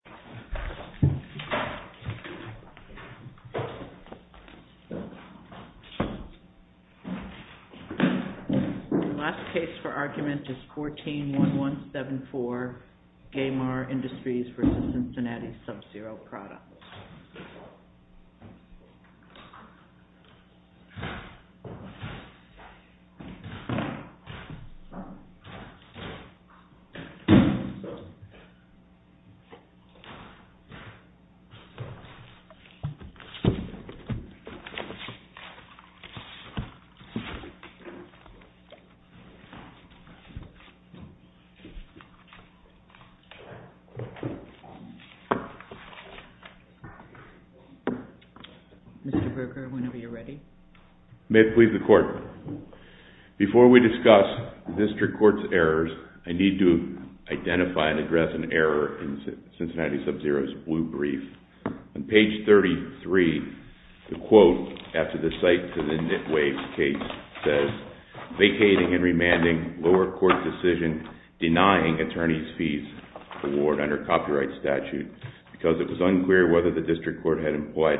The last case for argument is 14-1174, Gaymar Industries v. Cincinnati Sub-zero Products. Mr. Berger, whenever you are ready. May it please the Court. Before we discuss the District Court's errors, I need to identify and address an error in Cincinnati's Cincinnati Sub-zero's blue brief. On page 33, the quote after the site to the nitwave case says, vacating and remanding lower court decision denying attorney's fees award under copyright statute, because it was unclear whether the District Court had employed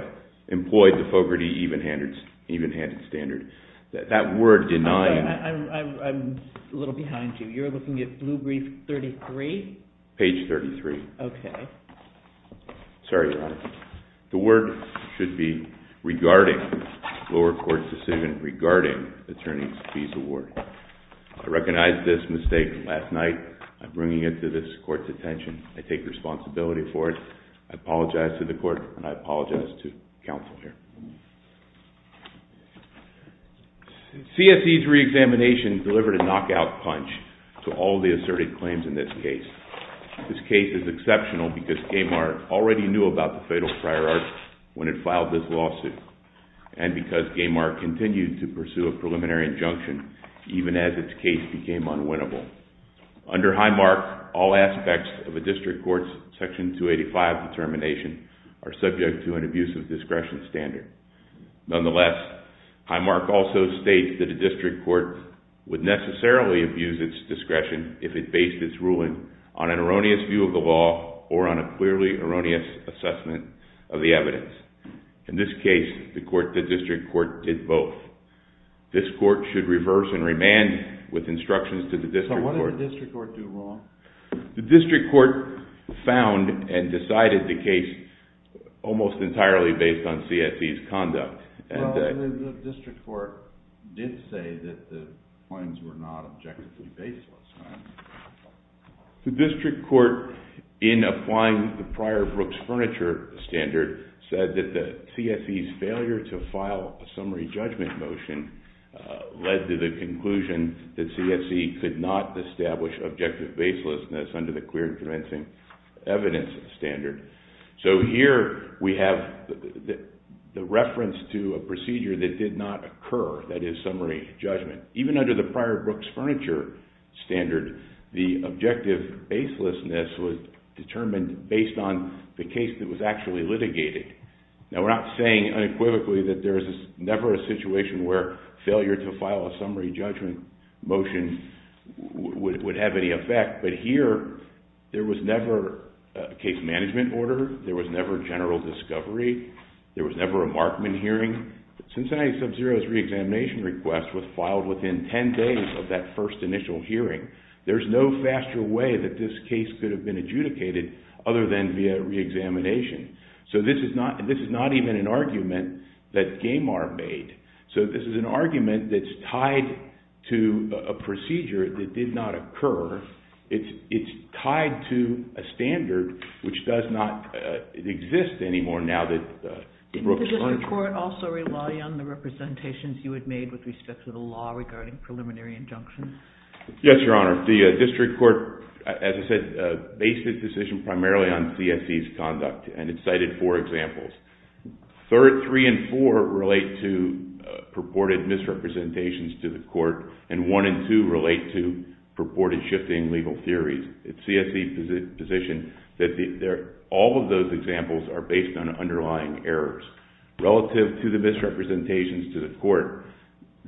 the Fogarty even-handed standard. That word denying... I'm a little behind you. You're looking at blue brief 33? Page 33. Okay. Sorry, Your Honor. The word should be regarding lower court's decision regarding attorney's fees award. I recognize this mistake last night. I'm bringing it to this Court's attention. I take responsibility for it. I apologize to the Court, and I apologize to counsel here. CSE's reexamination delivered a knockout punch to all the asserted claims in this case. This case is exceptional because Gaymar already knew about the fatal prior art when it filed this lawsuit, and because Gaymar continued to pursue a preliminary injunction even as its case became unwinnable. Under Highmark, all aspects of a District Court's Section 285 determination are subject to an abusive discretion standard. Nonetheless, Highmark also states that a District Court would necessarily abuse its discretion if it based its ruling on an erroneous view of the law or on a clearly erroneous assessment of the evidence. In this case, the District Court did both. This Court should reverse and remand with instructions to the District Court. So what did the District Court do wrong? The District Court found and decided the case almost entirely based on CSE's conduct. Well, the District Court did say that the claims were not objectively based last night. The District Court, in applying the prior Brooks Furniture Standard, said that the CSE's failure to file a summary judgment motion led to the conclusion that CSE could not establish objective baselessness under the Queer and Convincing Evidence Standard. So here we have the reference to a procedure that did not occur, that is, summary judgment. Even under the prior Brooks Furniture Standard, the objective baselessness was determined based on the case that was actually litigated. Now, we're not saying unequivocally that there is never a situation where failure to file a summary judgment motion would have any effect. But here, there was never a case management order. There was never general discovery. There was never a Markman hearing. Cincinnati Sub-Zero's reexamination request was filed within 10 days of that first initial hearing. There's no faster way that this case could have been adjudicated other than via reexamination. So this is not even an argument that Gamar made. So this is an argument that's tied to a procedure that did not occur. It's tied to a standard which does not exist anymore now that the Brooks Furniture Standard couldn't revenue amendment which is a concrete charge under the Now, on a more holistic sort of case, also reliant on the representations you had made with respect to the law regarding preliminary injunctions. Yes, Your Honor. The district court, as I said, based its decision primarily on CSE's conduct and it cited four examples. Three and four relate to purported misrepresentations to the court and one and two relate to purported shifting legal theories. It's CSE's position that all of those examples are based on underlying errors. Relative to the misrepresentations to the court,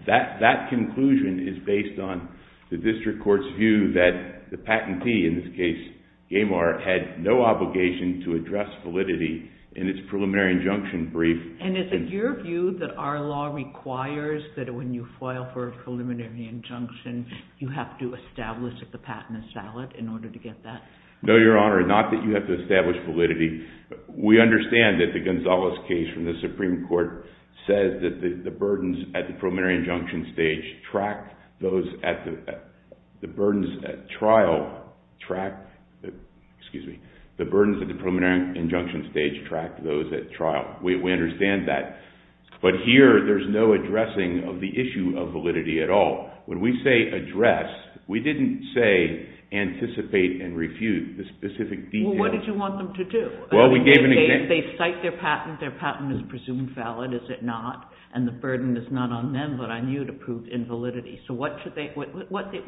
that conclusion is based on the district court's view that the patentee, in this case Gamar, had no obligation to address validity in its preliminary injunction brief. And is it your view that our law requires that when you file for a preliminary injunction, you have to establish that the patent is valid in order to get that? No, Your Honor. Not that you have to establish validity. We understand that the Gonzales case from the Supreme Court says that the burdens at the preliminary injunction stage track those at the trial. We understand that. But here, there's no addressing of the issue of validity at all. When we say address, we didn't say anticipate and refute the specific details. Well, what did you want them to do? They cite their patent, their patent is presumed valid, is it not? And the burden is not on them, but on you to prove invalidity. So what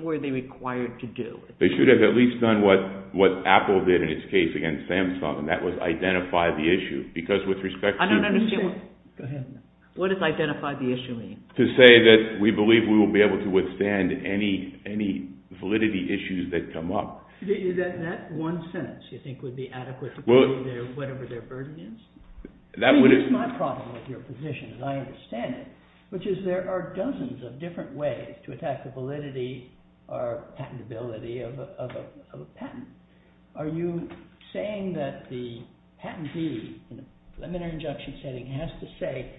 were they required to do? They should have at least done what Apple did in its case against Samsung, and that was identify the issue. I don't understand. Go ahead. What does identify the issue mean? To say that we believe we will be able to withstand any validity issues that come up. That one sentence you think would be adequate to prove whatever their burden is? I think that's my problem with your position, and I understand it, which is there are dozens of different ways to attack the validity or patentability of a patent. Are you saying that the patentee in the preliminary injunction setting has to say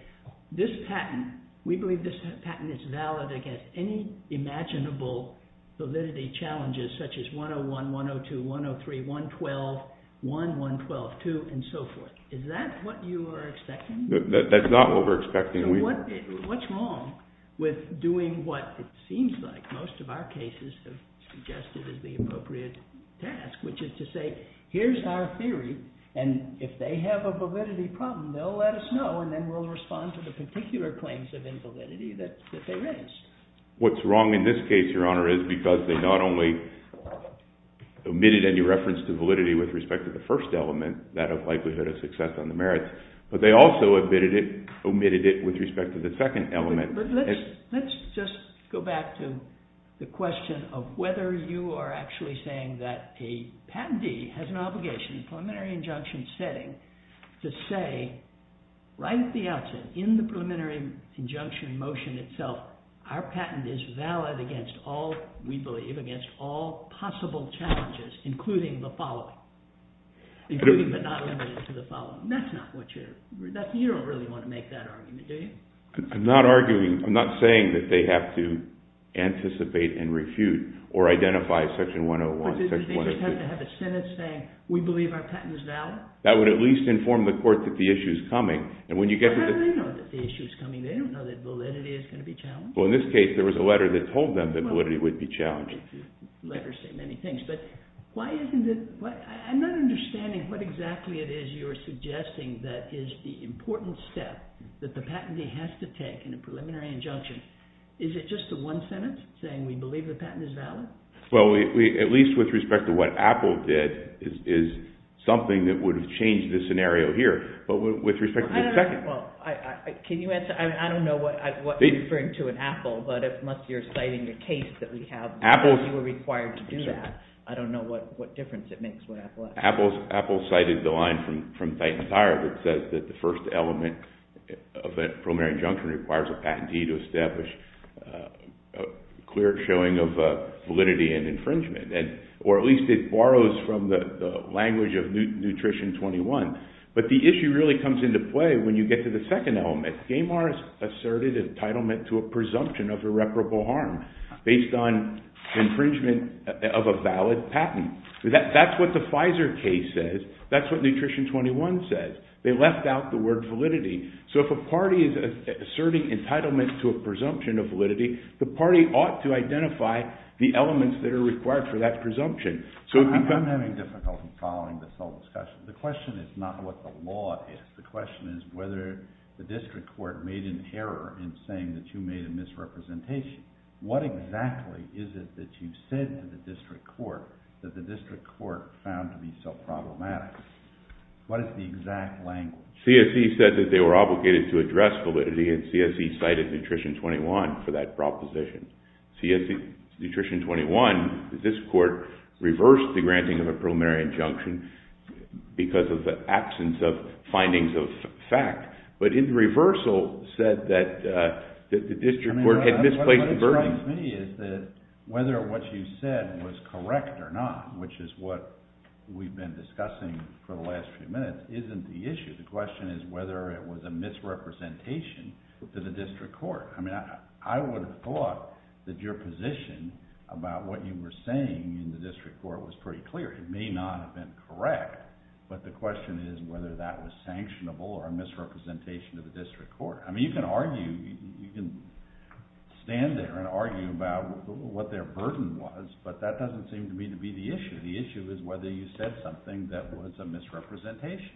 this patent, we believe this patent is valid against any imaginable validity challenges such as 101, 102, 103, 112, 1, 112, 2, and so forth. Is that what you are expecting? That's not what we're expecting. So what's wrong with doing what it seems like most of our cases have suggested is the appropriate task, which is to say here's our theory, and if they have a validity problem, they'll let us know, and then we'll respond to the particular claims of invalidity that they raised. What's wrong in this case, Your Honor, is because they not only omitted any reference to validity with respect to the first element, that of likelihood of success on the merits, but they also omitted it with respect to the second element. Let's just go back to the question of whether you are actually saying that a patentee has an obligation in the preliminary injunction setting to say right at the outset in the preliminary injunction motion itself, our patent is valid against all, we believe, against all possible challenges, including the following, including but not limited to the following. That's not what you're, you don't really want to make that argument, do you? I'm not arguing, I'm not saying that they have to anticipate and refute or identify section 101. Or do they just have to have a sentence saying we believe our patent is valid? That would at least inform the court that the issue is coming, and when you get to the... Well, how do they know that the issue is coming? They don't know that validity is going to be challenged. Well, in this case, there was a letter that told them that validity would be challenged. Letters say many things, but why isn't it, I'm not understanding what exactly it is you're suggesting that is the important step that the patentee has to take in a preliminary injunction. Is it just the one sentence saying we believe the patent is valid? Well, at least with respect to what Apple did is something that would have changed the scenario here. But with respect to the second... I don't know, well, can you answer, I don't know what you're referring to in Apple, but unless you're citing a case that we have, you were required to do that. I don't know what difference it makes what Apple has. Apple cited the line from Titan Fire that says that the first element of a preliminary injunction requires a patentee to establish a clear showing of validity and infringement, or at least it borrows from the language of Nutrition 21. But the issue really comes into play when you get to the second element. Gamar asserted entitlement to a presumption of irreparable harm based on infringement of a valid patent. That's what the Pfizer case says. That's what Nutrition 21 says. They left out the word validity. So if a party is asserting entitlement to a presumption of validity, the party ought to identify the elements that are required for that presumption. I'm having difficulty following this whole discussion. The question is not what the law is. The question is whether the district court made an error in saying that you made a misrepresentation. What exactly is it that you said to the district court that the district court found to be so problematic? What is the exact language? CSE said that they were obligated to address validity, and CSE cited Nutrition 21 for that proposition. Nutrition 21, this court reversed the granting of a preliminary injunction because of the absence of findings of fact. But in the reversal said that the district court had misplaced the verb. What strikes me is that whether what you said was correct or not, which is what we've been discussing for the last few minutes, isn't the issue. The question is whether it was a misrepresentation to the district court. I would have thought that your position about what you were saying in the district court was pretty clear. It may not have been correct, but the question is whether that was sanctionable or a misrepresentation to the district court. You can argue, you can stand there and argue about what their burden was, but that doesn't seem to be the issue. The issue is whether you said something that was a misrepresentation.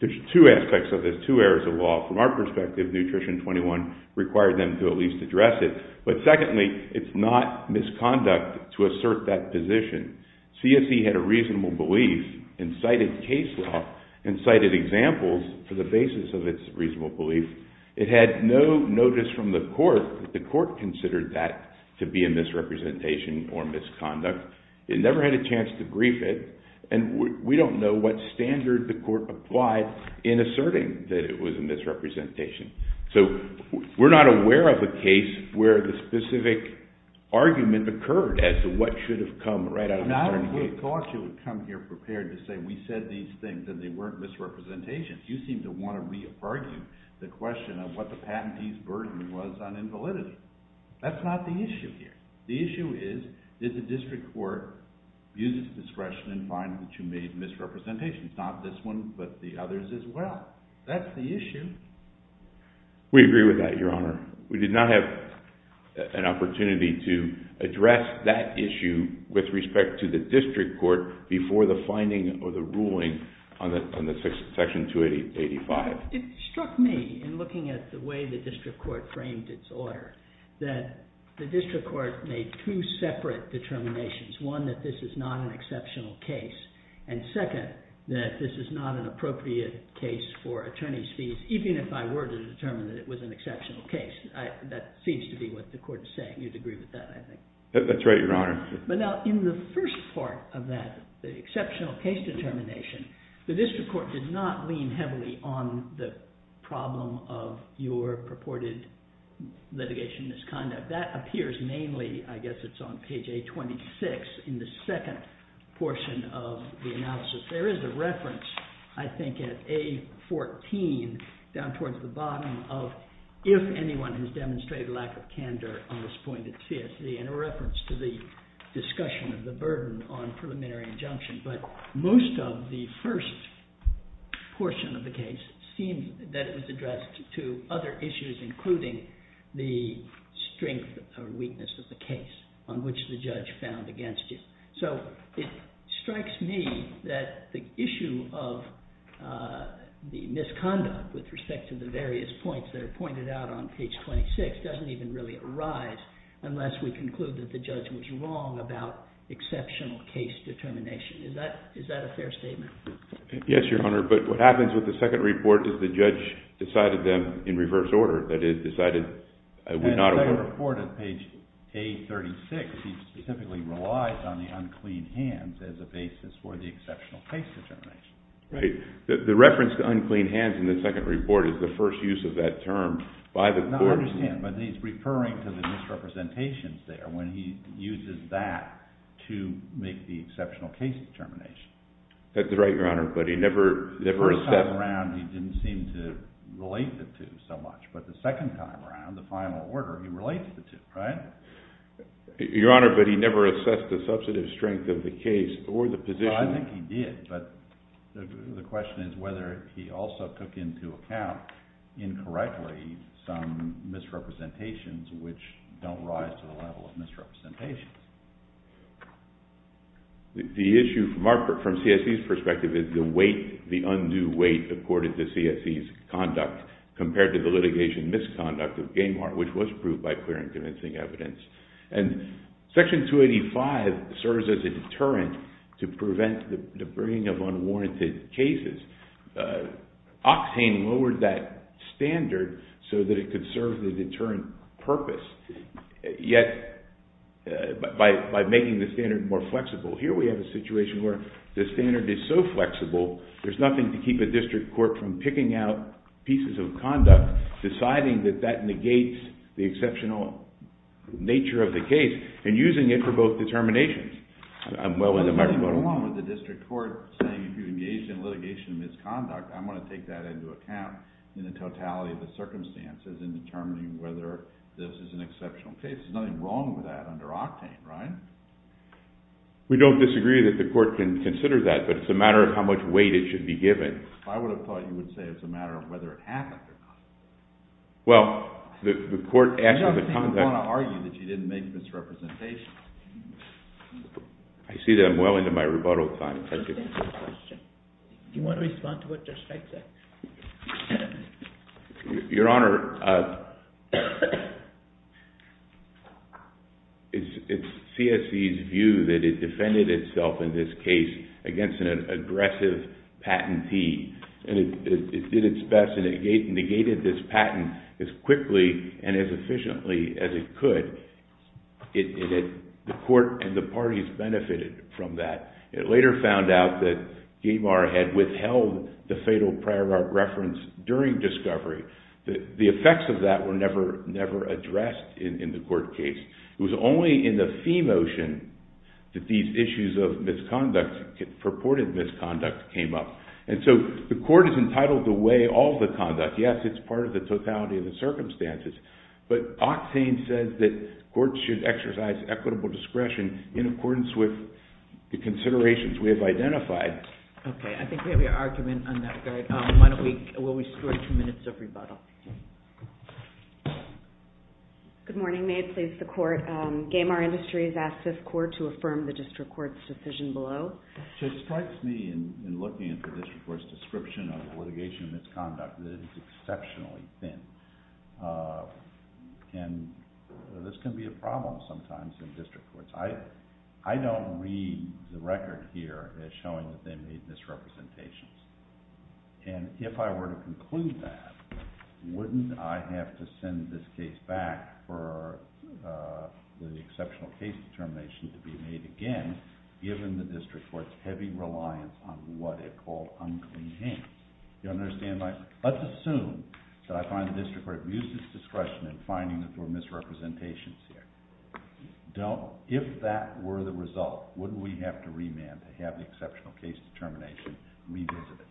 There's two aspects of this, two areas of law. From our perspective, Nutrition 21 required them to at least address it. But secondly, it's not misconduct to assert that position. CSE had a reasonable belief and cited case law and cited examples for the basis of its reasonable belief. It had no notice from the court that the court considered that to be a misrepresentation or misconduct. It never had a chance to brief it, and we don't know what standard the court applied in asserting that it was a misrepresentation. So we're not aware of a case where the specific argument occurred as to what should have come right out of a certain case. I would have thought you would come here prepared to say we said these things and they weren't misrepresentations. You seem to want to re-argue the question of what the patentee's burden was on invalidity. That's not the issue here. The issue is, did the district court use its discretion and find that you made misrepresentations? Not this one, but the others as well. That's the issue. We agree with that, Your Honor. We did not have an opportunity to address that issue with respect to the district court before the finding of the ruling on Section 285. It struck me in looking at the way the district court framed its order that the district court made two separate determinations. One, that this is not an exceptional case. And second, that this is not an appropriate case for attorney's fees, even if I were to determine that it was an exceptional case. That seems to be what the court is saying. You'd agree with that, I think. That's right, Your Honor. But now, in the first part of that exceptional case determination, the district court did not lean heavily on the problem of your purported litigation misconduct. That appears mainly, I guess it's on page A26, in the second portion of the analysis. There is a reference, I think, at A14, down towards the bottom, of if anyone has demonstrated lack of candor on this point at CSD, and a reference to the discussion of the burden on preliminary injunction. But most of the first portion of the case seemed that it was addressed to other issues, including the strength or weakness of the case on which the judge found against you. So it strikes me that the issue of the misconduct with respect to the various points that are pointed out on page 26 doesn't even really arise unless we conclude that the judge was wrong about exceptional case determination. Is that a fair statement? Yes, Your Honor. But what happens with the second report is the judge decided them in reverse order. That is, decided would not award. And the second report is page A36. He specifically relies on the unclean hands as a basis for the exceptional case determination. Right. The reference to unclean hands in the second report is the first use of that term by the court. I understand, but he's referring to the misrepresentations there when he uses that to make the exceptional case determination. That's right, Your Honor, but he never assessed. The first time around he didn't seem to relate the two so much, but the second time around, the final order, he relates the two, right? Your Honor, but he never assessed the substantive strength of the case or the position. I think he did, but the question is whether he also took into account incorrectly some misrepresentations which don't rise to the level of misrepresentations. The issue from CSE's perspective is the weight, the undue weight, according to CSE's conduct compared to the litigation misconduct of Gamehart, which was proved by clear and convincing evidence. And Section 285 serves as a deterrent to prevent the bringing of unwarranted cases. Oxhane lowered that standard so that it could serve the deterrent purpose, yet by making the standard more flexible. Here we have a situation where the standard is so flexible there's nothing to keep a district court from picking out pieces of conduct, deciding that that negates the exceptional nature of the case, and using it for both determinations. There's nothing wrong with the district court saying if you engage in litigation misconduct, I'm going to take that into account in the totality of the circumstances in determining whether this is an exceptional case. There's nothing wrong with that under Octane, right? We don't disagree that the court can consider that, but it's a matter of how much weight it should be given. I would have thought you would say it's a matter of whether it happened or not. Well, the court asked for the conduct... I don't want to argue that you didn't make misrepresentation. I see that I'm well into my rebuttal time. Do you want to respond to what their site said? Your Honor, it's CSE's view that it defended itself in this case against an aggressive patentee, and it did its best, and it negated this patent as quickly and as efficiently as it could. The court and the parties benefited from that. It later found out that Gamar had withheld the fatal prior reference during discovery. The effects of that were never addressed in the court case. It was only in the fee motion that these issues of misconduct, purported misconduct, came up. And so the court is entitled to weigh all the conduct. Yes, it's part of the totality of the circumstances, but Octane says that courts should exercise equitable discretion in accordance with the considerations we have identified. Okay. I think we have an argument on that. Why don't we score two minutes of rebuttal. Good morning. May it please the Court. Gamar Industries asks this Court to affirm the district court's decision below. It strikes me in looking at the district court's description of litigation of misconduct that it is exceptionally thin, and this can be a problem sometimes in district courts. I don't read the record here as showing that they made misrepresentations, and if I were to conclude that, wouldn't I have to send this case back for the exceptional case determination given the district court's heavy reliance on what it called unclean hands? Let's assume that I find the district court abuses discretion in finding that there were misrepresentations here. If that were the result, wouldn't we have to remand to have the exceptional case determination revisited?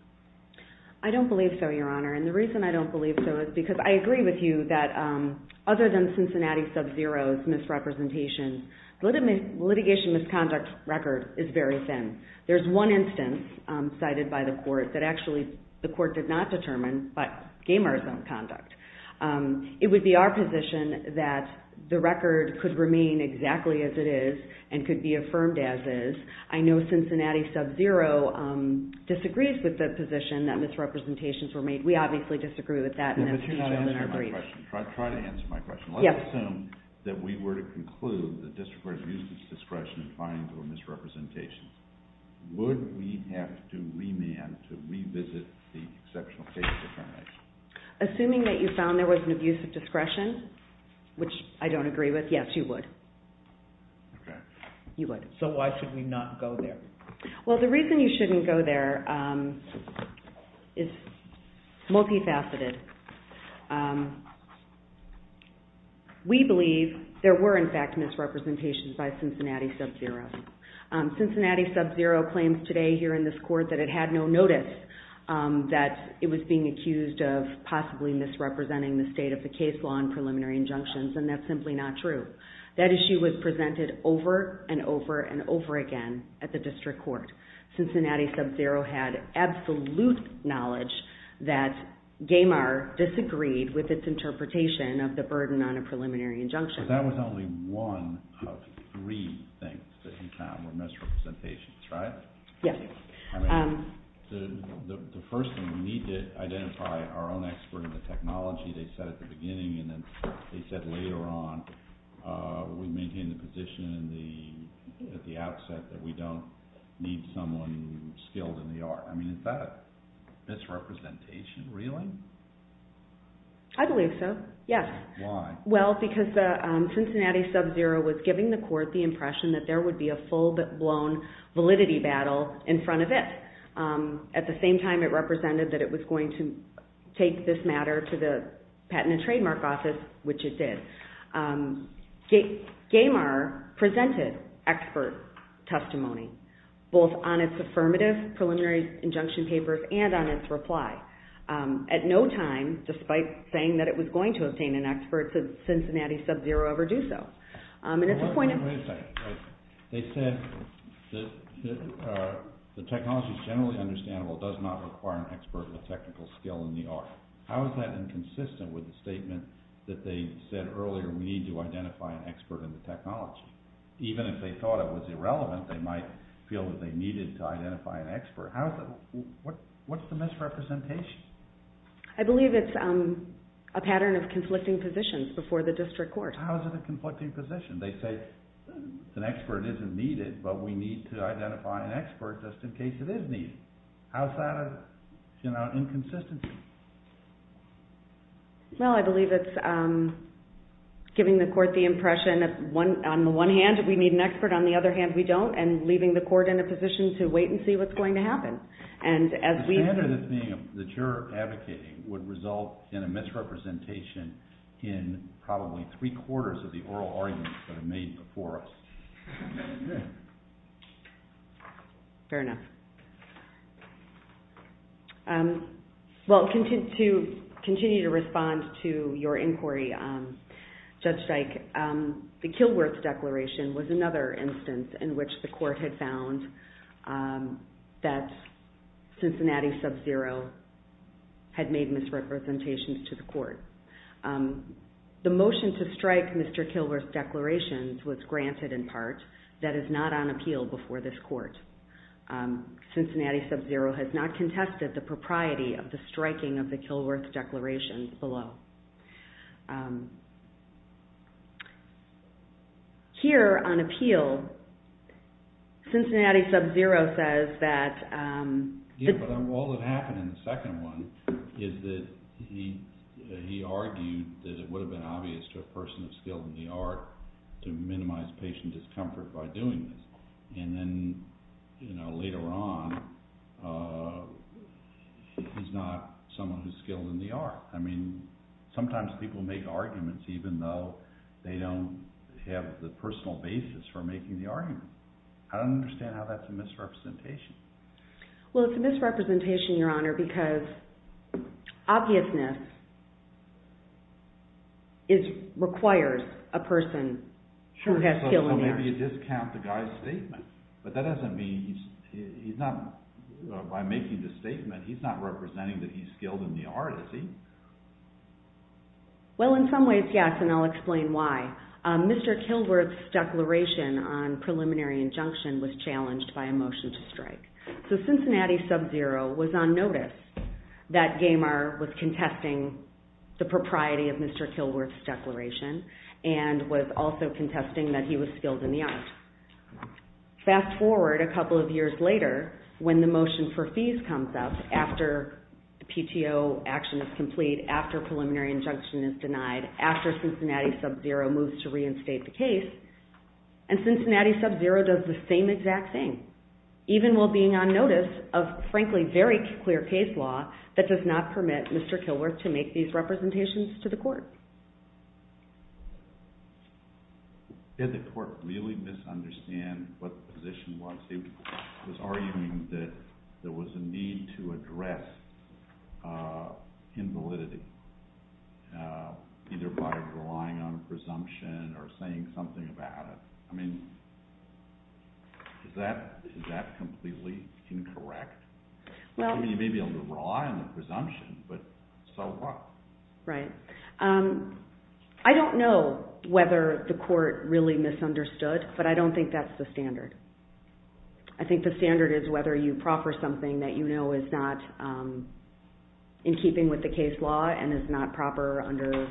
I don't believe so, Your Honor, and the reason I don't believe so is because I agree with you that other than Cincinnati Sub-Zero's misrepresentation, the litigation misconduct record is very thin. There's one instance cited by the Court that actually the Court did not determine by Gamar's misconduct. It would be our position that the record could remain exactly as it is and could be affirmed as is. I know Cincinnati Sub-Zero disagrees with the position that misrepresentations were made. We obviously disagree with that in our brief. But you're not answering my question. Try to answer my question. Let's assume that we were to conclude that district court abuses discretion in finding there were misrepresentations. Would we have to remand to revisit the exceptional case determination? Assuming that you found there was an abuse of discretion, which I don't agree with, yes, you would. Okay. You would. So why should we not go there? Well, the reason you shouldn't go there is multifaceted. We believe there were, in fact, misrepresentations by Cincinnati Sub-Zero. Cincinnati Sub-Zero claims today here in this Court that it had no notice that it was being accused of possibly misrepresenting the state of the case law in preliminary injunctions, and that's simply not true. That issue was presented over and over and over again at the district court. Cincinnati Sub-Zero had absolute knowledge that Gamar disagreed with its interpretation of the burden on a preliminary injunction. But that was only one of three things that you found were misrepresentations, right? Yes. I mean, the first thing, we need to identify our own expert in the technology. They said at the beginning, and then they said later on, we maintain the position at the outset that we don't need someone skilled in the art. I mean, is that a misrepresentation really? I believe so, yes. Why? Well, because Cincinnati Sub-Zero was giving the Court the impression that there would be a full-blown validity battle in front of it. At the same time, it represented that it was going to take this matter to the Patent and Trademark Office, which it did. Gamar presented expert testimony, both on its affirmative preliminary injunction papers and on its reply. At no time, despite saying that it was going to obtain an expert, did Cincinnati Sub-Zero ever do so. Wait a second. They said the technology is generally understandable. It does not require an expert with technical skill in the art. How is that inconsistent with the statement that they said earlier, we need to identify an expert in the technology? Even if they thought it was irrelevant, they might feel that they needed to identify an expert. What's the misrepresentation? I believe it's a pattern of conflicting positions before the District Court. How is it a conflicting position? They say an expert isn't needed, but we need to identify an expert just in case it is needed. How is that an inconsistency? I believe it's giving the Court the impression that, on the one hand, we need an expert, on the other hand, we don't, and leaving the Court in a position to wait and see what's going to happen. The standard that you're advocating would result in a misrepresentation in probably three-quarters of the oral arguments that are made before us. Fair enough. To continue to respond to your inquiry, Judge Dyke, the Kilworth Declaration was another instance in which the Court had found that Cincinnati Sub-Zero had made misrepresentations to the Court. The motion to strike Mr. Kilworth's declarations was granted in part. That is not on appeal before this Court. Cincinnati Sub-Zero has not contested the propriety of the striking of the Kilworth Declaration below. Here, on appeal, Cincinnati Sub-Zero says that... He argued that it would have been obvious to a person of skill in the art to minimize patient discomfort by doing this, and then later on, he's not someone who's skilled in the art. I mean, sometimes people make arguments even though they don't have the personal basis for making the argument. I don't understand how that's a misrepresentation. Well, it's a misrepresentation, Your Honor, because obviousness requires a person who has skill in the art. Sure, so maybe you discount the guy's statement, but that doesn't mean he's not, by making the statement, he's not representing that he's skilled in the art, is he? Well, in some ways, yes, and I'll explain why. Mr. Kilworth's declaration on preliminary injunction was challenged by a motion to strike. So Cincinnati Sub-Zero was on notice that Gamer was contesting the propriety of Mr. Kilworth's declaration and was also contesting that he was skilled in the art. Fast forward a couple of years later when the motion for fees comes up after the PTO action is complete, after preliminary injunction is denied, after Cincinnati Sub-Zero moves to reinstate the case, and Cincinnati Sub-Zero does the same exact thing, even while being on notice of, frankly, very clear case law that does not permit Mr. Kilworth to make these representations to the court. Did the court really misunderstand what the position was? He was arguing that there was a need to address invalidity, either by relying on a presumption or saying something about it. I mean, is that completely incorrect? I mean, you may be able to rely on a presumption, but so what? Right. I don't know whether the court really misunderstood, but I don't think that's the standard. I think the standard is whether you proffer something that you know is not in keeping with the case law and is not proper under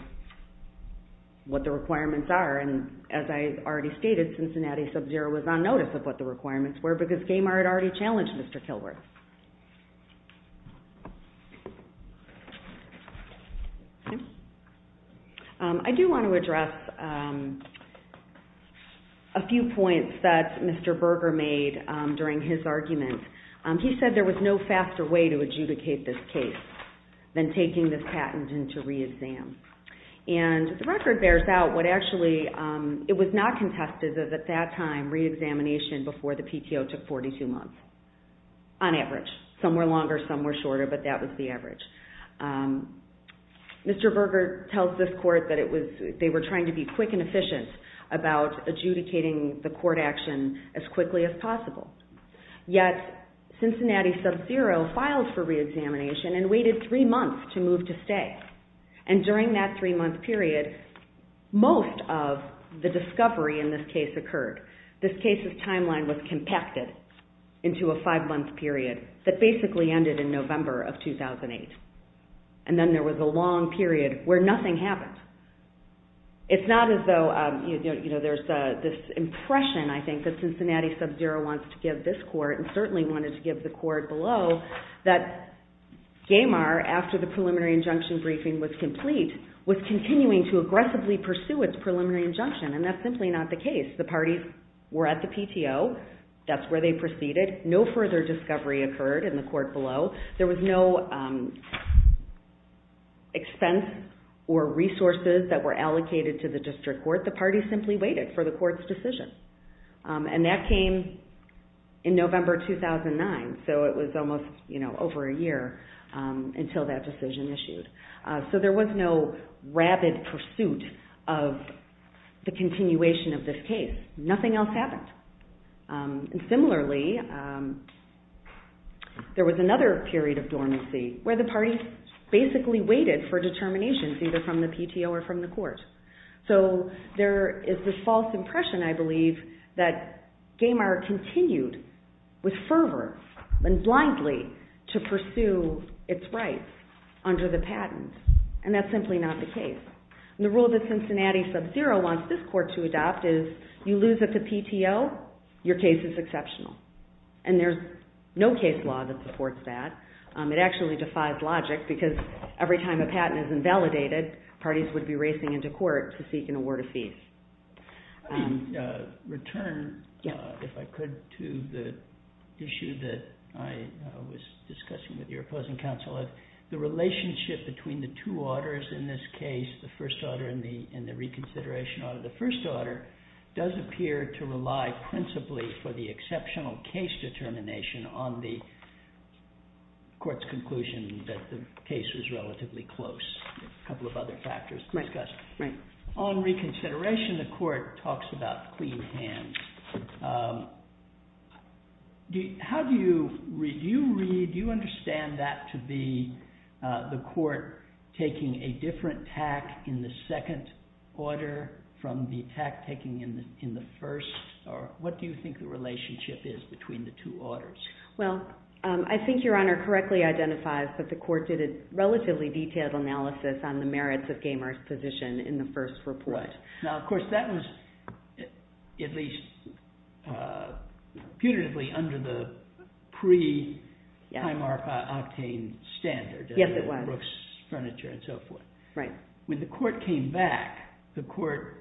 what the requirements are. And as I already stated, Cincinnati Sub-Zero was on notice of what the requirements were because Gaymar had already challenged Mr. Kilworth. I do want to address a few points that Mr. Berger made during his argument. He said there was no faster way to adjudicate this case than taking this patent into re-exam. And the record bears out what actually, it was not contested that at that time re-examination before the PTO took 42 months, on average. Some were longer, some were shorter, but that was the average. Mr. Berger tells this court that they were trying to be quick and efficient about adjudicating the court action as quickly as possible. Yet Cincinnati Sub-Zero filed for re-examination and waited three months to move to stay. And during that three-month period, most of the discovery in this case occurred. This case's timeline was compacted into a five-month period that basically ended in November of 2008. And then there was a long period where nothing happened. It's not as though there's this impression, I think, that Cincinnati Sub-Zero wants to give this court and certainly wanted to give the court below that Gamar, after the preliminary injunction briefing was complete, was continuing to aggressively pursue its preliminary injunction. And that's simply not the case. The parties were at the PTO. That's where they proceeded. No further discovery occurred in the court below. There was no expense or resources that were allocated to the district court. The parties simply waited for the court's decision. And that came in November 2009. So it was almost over a year until that decision issued. So there was no rapid pursuit of the continuation of this case. Nothing else happened. And similarly, there was another period of dormancy where the parties basically waited for determinations either from the PTO or from the court. So there is this false impression, I believe, that Gamar continued with fervor and blindly to pursue its rights under the patent. And that's simply not the case. The rule that Cincinnati Sub-Zero wants this court to adopt is you lose at the PTO, your case is exceptional. And there's no case law that supports that. It actually defies logic because every time a patent is invalidated, parties would be racing into court to seek and award a fee. Return, if I could, to the issue that I was discussing with your opposing counsel. The relationship between the two orders in this case, the first order and the reconsideration order. The first order does appear to rely principally for the exceptional case determination on the court's conclusion that the case was relatively close. A couple of other factors discussed. On reconsideration, the court talks about clean hands. How do you read, do you understand that to be the court taking a different tack in the second order from the tack taken in the first? What do you think the relationship is between the two orders? Well, I think Your Honor correctly identifies that the court did a relatively detailed analysis on the merits of Gaymer's position in the first report. Right. Now, of course, that was at least putatively under the pre-highmark octane standard. Yes, it was. Brooks furniture and so forth. Right. When the court came back, the court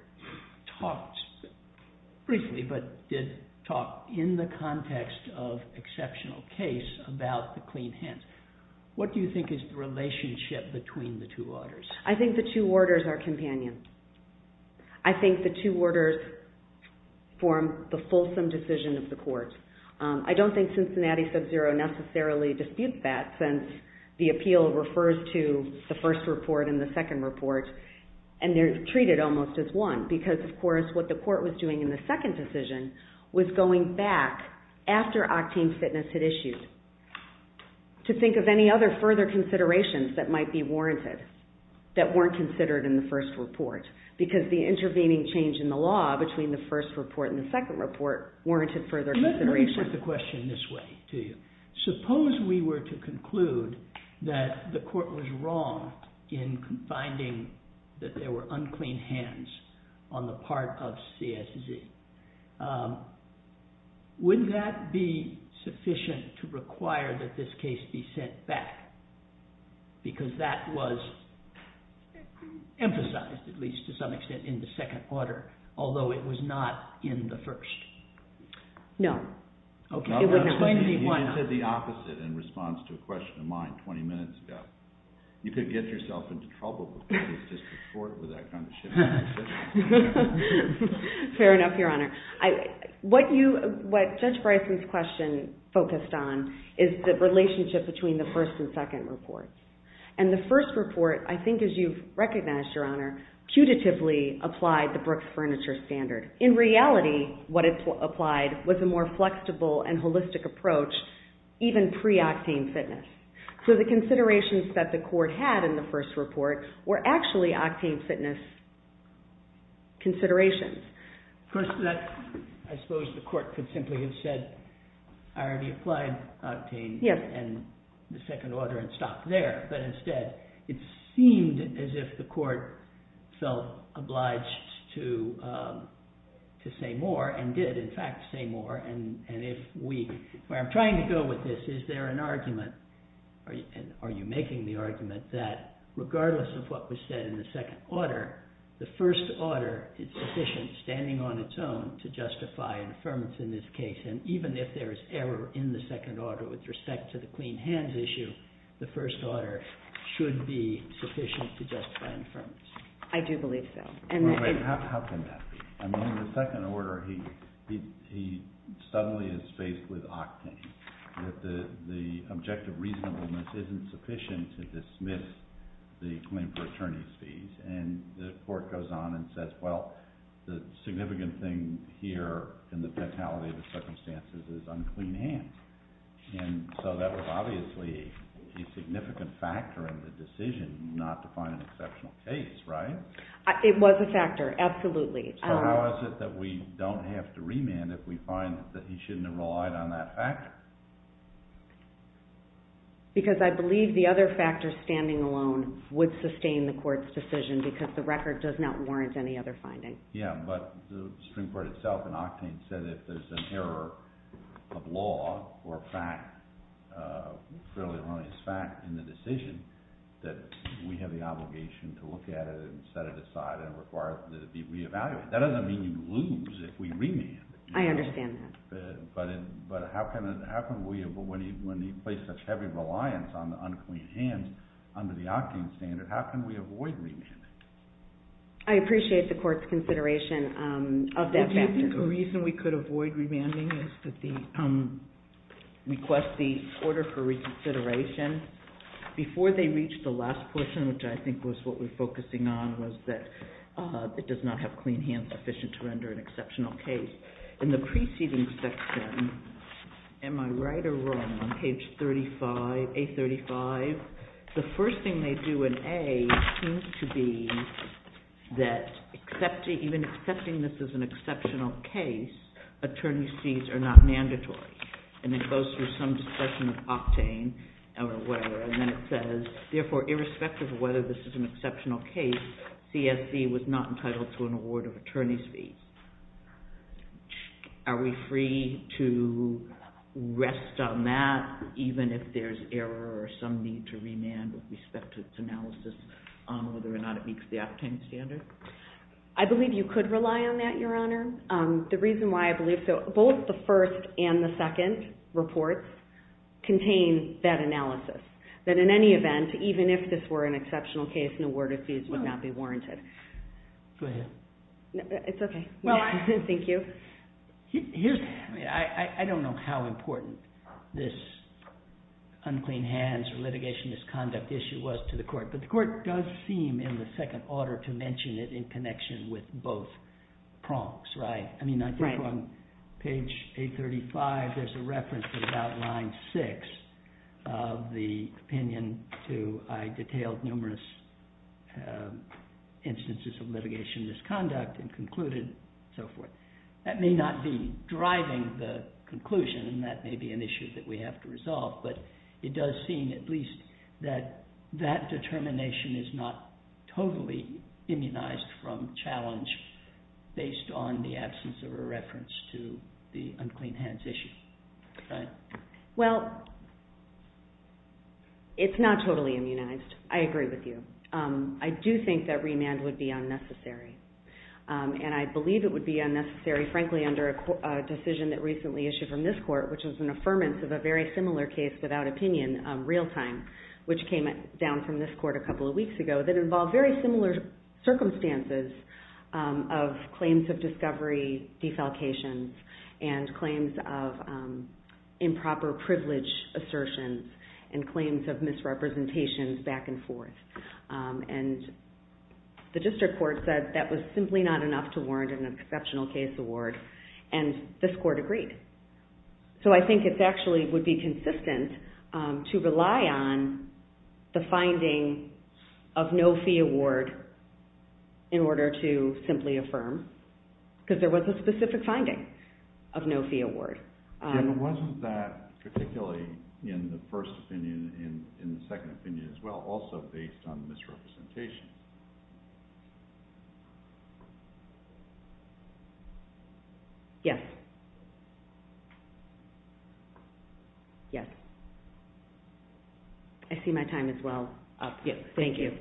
talked briefly but did talk in the context of exceptional case about the clean hands. What do you think is the relationship between the two orders? I think the two orders are companions. I think the two orders form the fulsome decision of the court. I don't think Cincinnati Sub-Zero necessarily disputes that since the appeal refers to the first report and the second report and they're treated almost as one because, of course, what the court was doing in the second decision was going back after octane fitness had issued to think of any other further considerations that might be warranted that weren't considered in the first report because the intervening change in the law between the first report and the second report warranted further consideration. Let me put the question this way to you. Suppose we were to conclude that the court was wrong in finding that there were unclean hands on the part of CSZ. Wouldn't that be sufficient to require that this case be sent back because that was emphasized, at least to some extent, in the second order although it was not in the first? No. You said the opposite in response to a question of mine 20 minutes ago. You could get yourself into trouble if the court was just as short with that kind of shit. Fair enough, Your Honor. What Judge Bryson's question focused on is the relationship between the first and second reports. And the first report, I think as you've recognized, Your Honor, putatively applied the Brooks Furniture Standard. In reality, what it applied was a more flexible and holistic approach even pre-octane fitness. So the considerations that the court had in the first report were actually octane fitness considerations. First of all, I suppose the court could simply have said I already applied octane in the second order and stopped there. But instead, it seemed as if the court felt obliged to say more and did, in fact, say more. And where I'm trying to go with this, is there an argument and are you making the argument that regardless of what was said in the second order, the first order is sufficient, standing on its own, to justify an affirmance in this case. And even if there is error in the second order with respect to the clean hands issue, the first order should be sufficient to justify an affirmance. I do believe so. How can that be? In the second order, he suddenly is faced with octane. The objective reasonableness isn't sufficient to dismiss the claim for attorney's fees. And the court goes on and says, well, the significant thing here in the fatality of the circumstances is unclean hands. And so that was obviously a significant factor in the decision not to find an exceptional case, right? It was a factor, absolutely. So how is it that we don't have to remand if we find that he shouldn't have relied on that factor? Because I believe the other factor, standing alone, would sustain the court's decision because the record does not warrant any other finding. Yeah, but the Supreme Court itself in octane said if there's an error of law or fact, a fairly erroneous fact in the decision, that we have the obligation to look at it and set it aside and require that it be reevaluated. That doesn't mean you lose if we remand. I understand that. But how can we, when he placed such heavy reliance on the unclean hands under the octane standard, how can we avoid remanding? I appreciate the court's consideration of that factor. Do you think a reason we could avoid remanding is that the request, the order for reconsideration, before they reached the last portion, which I think was what we're focusing on, was that it does not have clean hands sufficient to render an exceptional case. In the preceding section, am I right or wrong, on page 35, A35, the first thing they do in A seems to be that even accepting this as an exceptional case, attorney's fees are not mandatory. And it goes through some discussion of octane or whatever, and then it says, therefore, irrespective of whether this is an exceptional case, CSC was not entitled to an award of attorney's fees. Are we free to rest on that, even if there's error or some need to remand with respect to its analysis on whether or not it meets the octane standard? I believe you could rely on that, Your Honor. The reason why I believe so, both the first and the second reports contain that analysis, that in any event, even if this were an exceptional case an award of fees would not be warranted. Go ahead. It's okay. Thank you. I don't know how important this unclean hands or litigation misconduct issue was to the court, but the court does seem, in the second order, to mention it in connection with both prompts, right? I mean, I think on page 835, there's a reference to about line 6 of the opinion to I detailed numerous instances of litigation misconduct and concluded and so forth. That may not be driving the conclusion, and that may be an issue that we have to resolve, but it does seem at least that that determination is not totally immunized from challenge based on the absence of a reference to the unclean hands issue, right? Well, it's not totally immunized. I agree with you. I do think that remand would be unnecessary, and I believe it would be unnecessary, frankly, under a decision that recently issued from this court, which was an affirmance of a very similar case without opinion, real time, which came down from this court a couple of weeks ago, that involved very similar circumstances of claims of discovery, defalcations, and claims of improper privilege assertions and claims of misrepresentations back and forth. And the district court said that was simply not enough to warrant an exceptional case award, and this court agreed. So I think it actually would be consistent to rely on the finding of no fee award in order to simply affirm, because there was a specific finding of no fee award. And wasn't that particularly in the first opinion and in the second opinion as well also based on misrepresentation? Yes. Yes. I see my time is well up. Thank you. Thank you.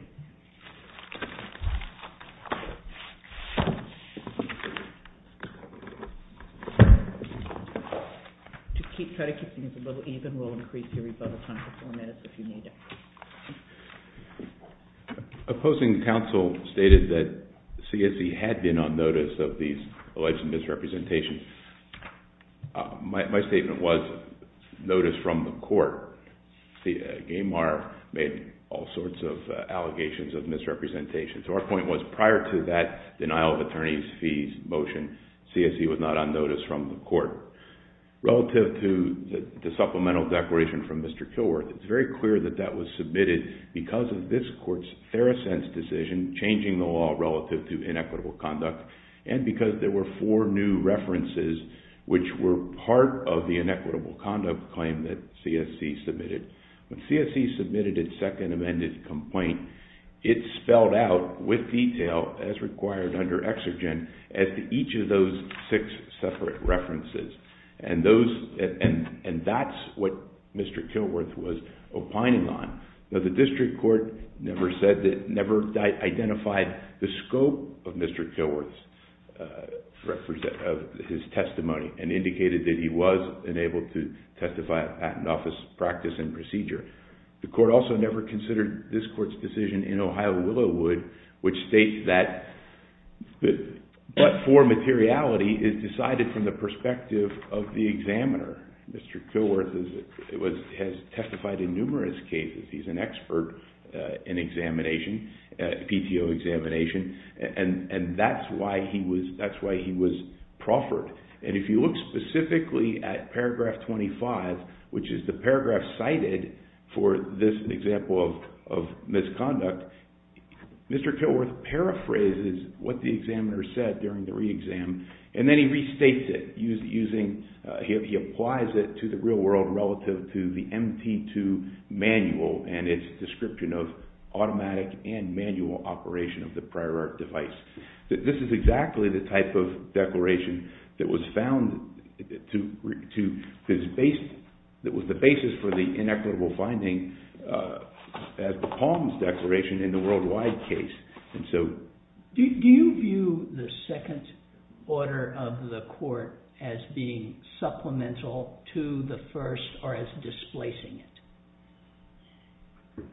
To keep credit keeping us a little even, we'll increase your rebuttal time for four minutes if you need it. Opposing counsel stated that CSE had been on notice of these alleged misrepresentations. My statement was notice from the court. GAMAR made all sorts of allegations of misrepresentations. Our point was prior to that denial of attorney's fees motion, CSE was not on notice from the court. Relative to the supplemental declaration from Mr. Kilworth, it's very clear that that was submitted because of this court's Theracense decision, changing the law relative to inequitable conduct, and because there were four new references which were part of the inequitable conduct claim that CSE submitted. When CSE submitted its second amended complaint, it spelled out with detail, as required under exergen, as to each of those six separate references. And that's what Mr. Kilworth was opining on. The district court never identified the scope of Mr. Kilworth's testimony and indicated that he was enabled to testify at an office practice and procedure. The court also never considered this court's decision in Ohio-Willowood, which states that, but for materiality, is decided from the perspective of the examiner. Mr. Kilworth has testified in numerous cases. He's an expert in examination, PTO examination, and that's why he was proffered. And if you look specifically at paragraph 25, which is the paragraph cited for this example of misconduct, Mr. Kilworth paraphrases what the examiner said during the re-exam, and then he restates it. He applies it to the real world relative to the MT2 manual and its description of automatic and manual operation of the prior art device. This is exactly the type of declaration that was found that was the basis for the inequitable finding as the Palms Declaration in the Worldwide case. Do you view the second order of the court as being supplemental to the first or as displacing it?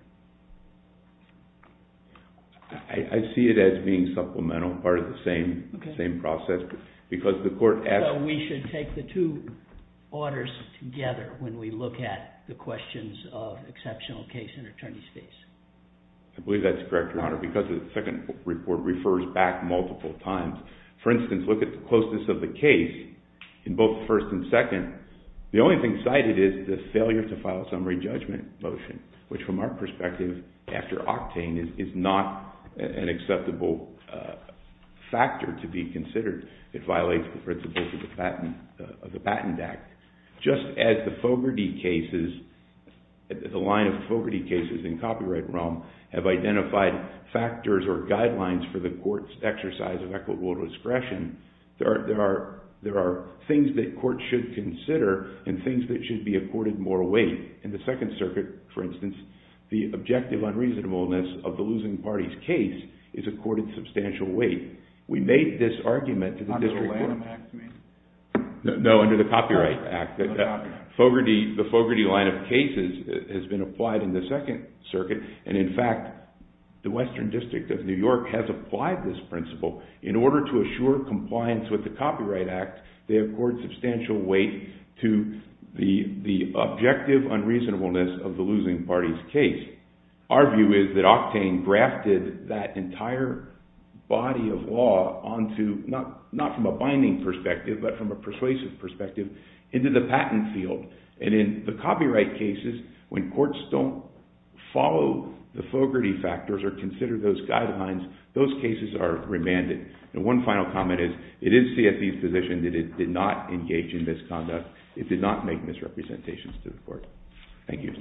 I see it as being supplemental, part of the same process, so we should take the two orders together when we look at the questions of exceptional case and attorney's case. I believe that's correct, Your Honor, because the second report refers back multiple times. For instance, look at the closeness of the case in both the first and second. The only thing cited is the failure to file summary judgment motion, which from our perspective, after octane, is not an acceptable factor to be considered. It violates the principles of the Patent Act. Just as the line of Fogarty cases in copyright realm have identified factors or guidelines for the court's exercise of equitable discretion, there are things that courts should consider and things that should be accorded more weight. In the Second Circuit, for instance, the objective unreasonableness of the losing party's case is accorded substantial weight. We made this argument to the district court. Under the Lanham Act, you mean? No, under the Copyright Act. The Fogarty line of cases has been applied in the Second Circuit, and in fact, the Western District of New York has applied this principle. In order to assure compliance with the Copyright Act, they accord substantial weight to the objective unreasonableness of the losing party's case. Our view is that octane grafted that entire body of law not from a binding perspective, but from a persuasive perspective, into the patent field. And in the copyright cases, when courts don't follow the Fogarty factors or consider those guidelines, those cases are remanded. One final comment is it is CFP's position that it did not engage in misconduct. It did not make misrepresentations to the court. Thank you.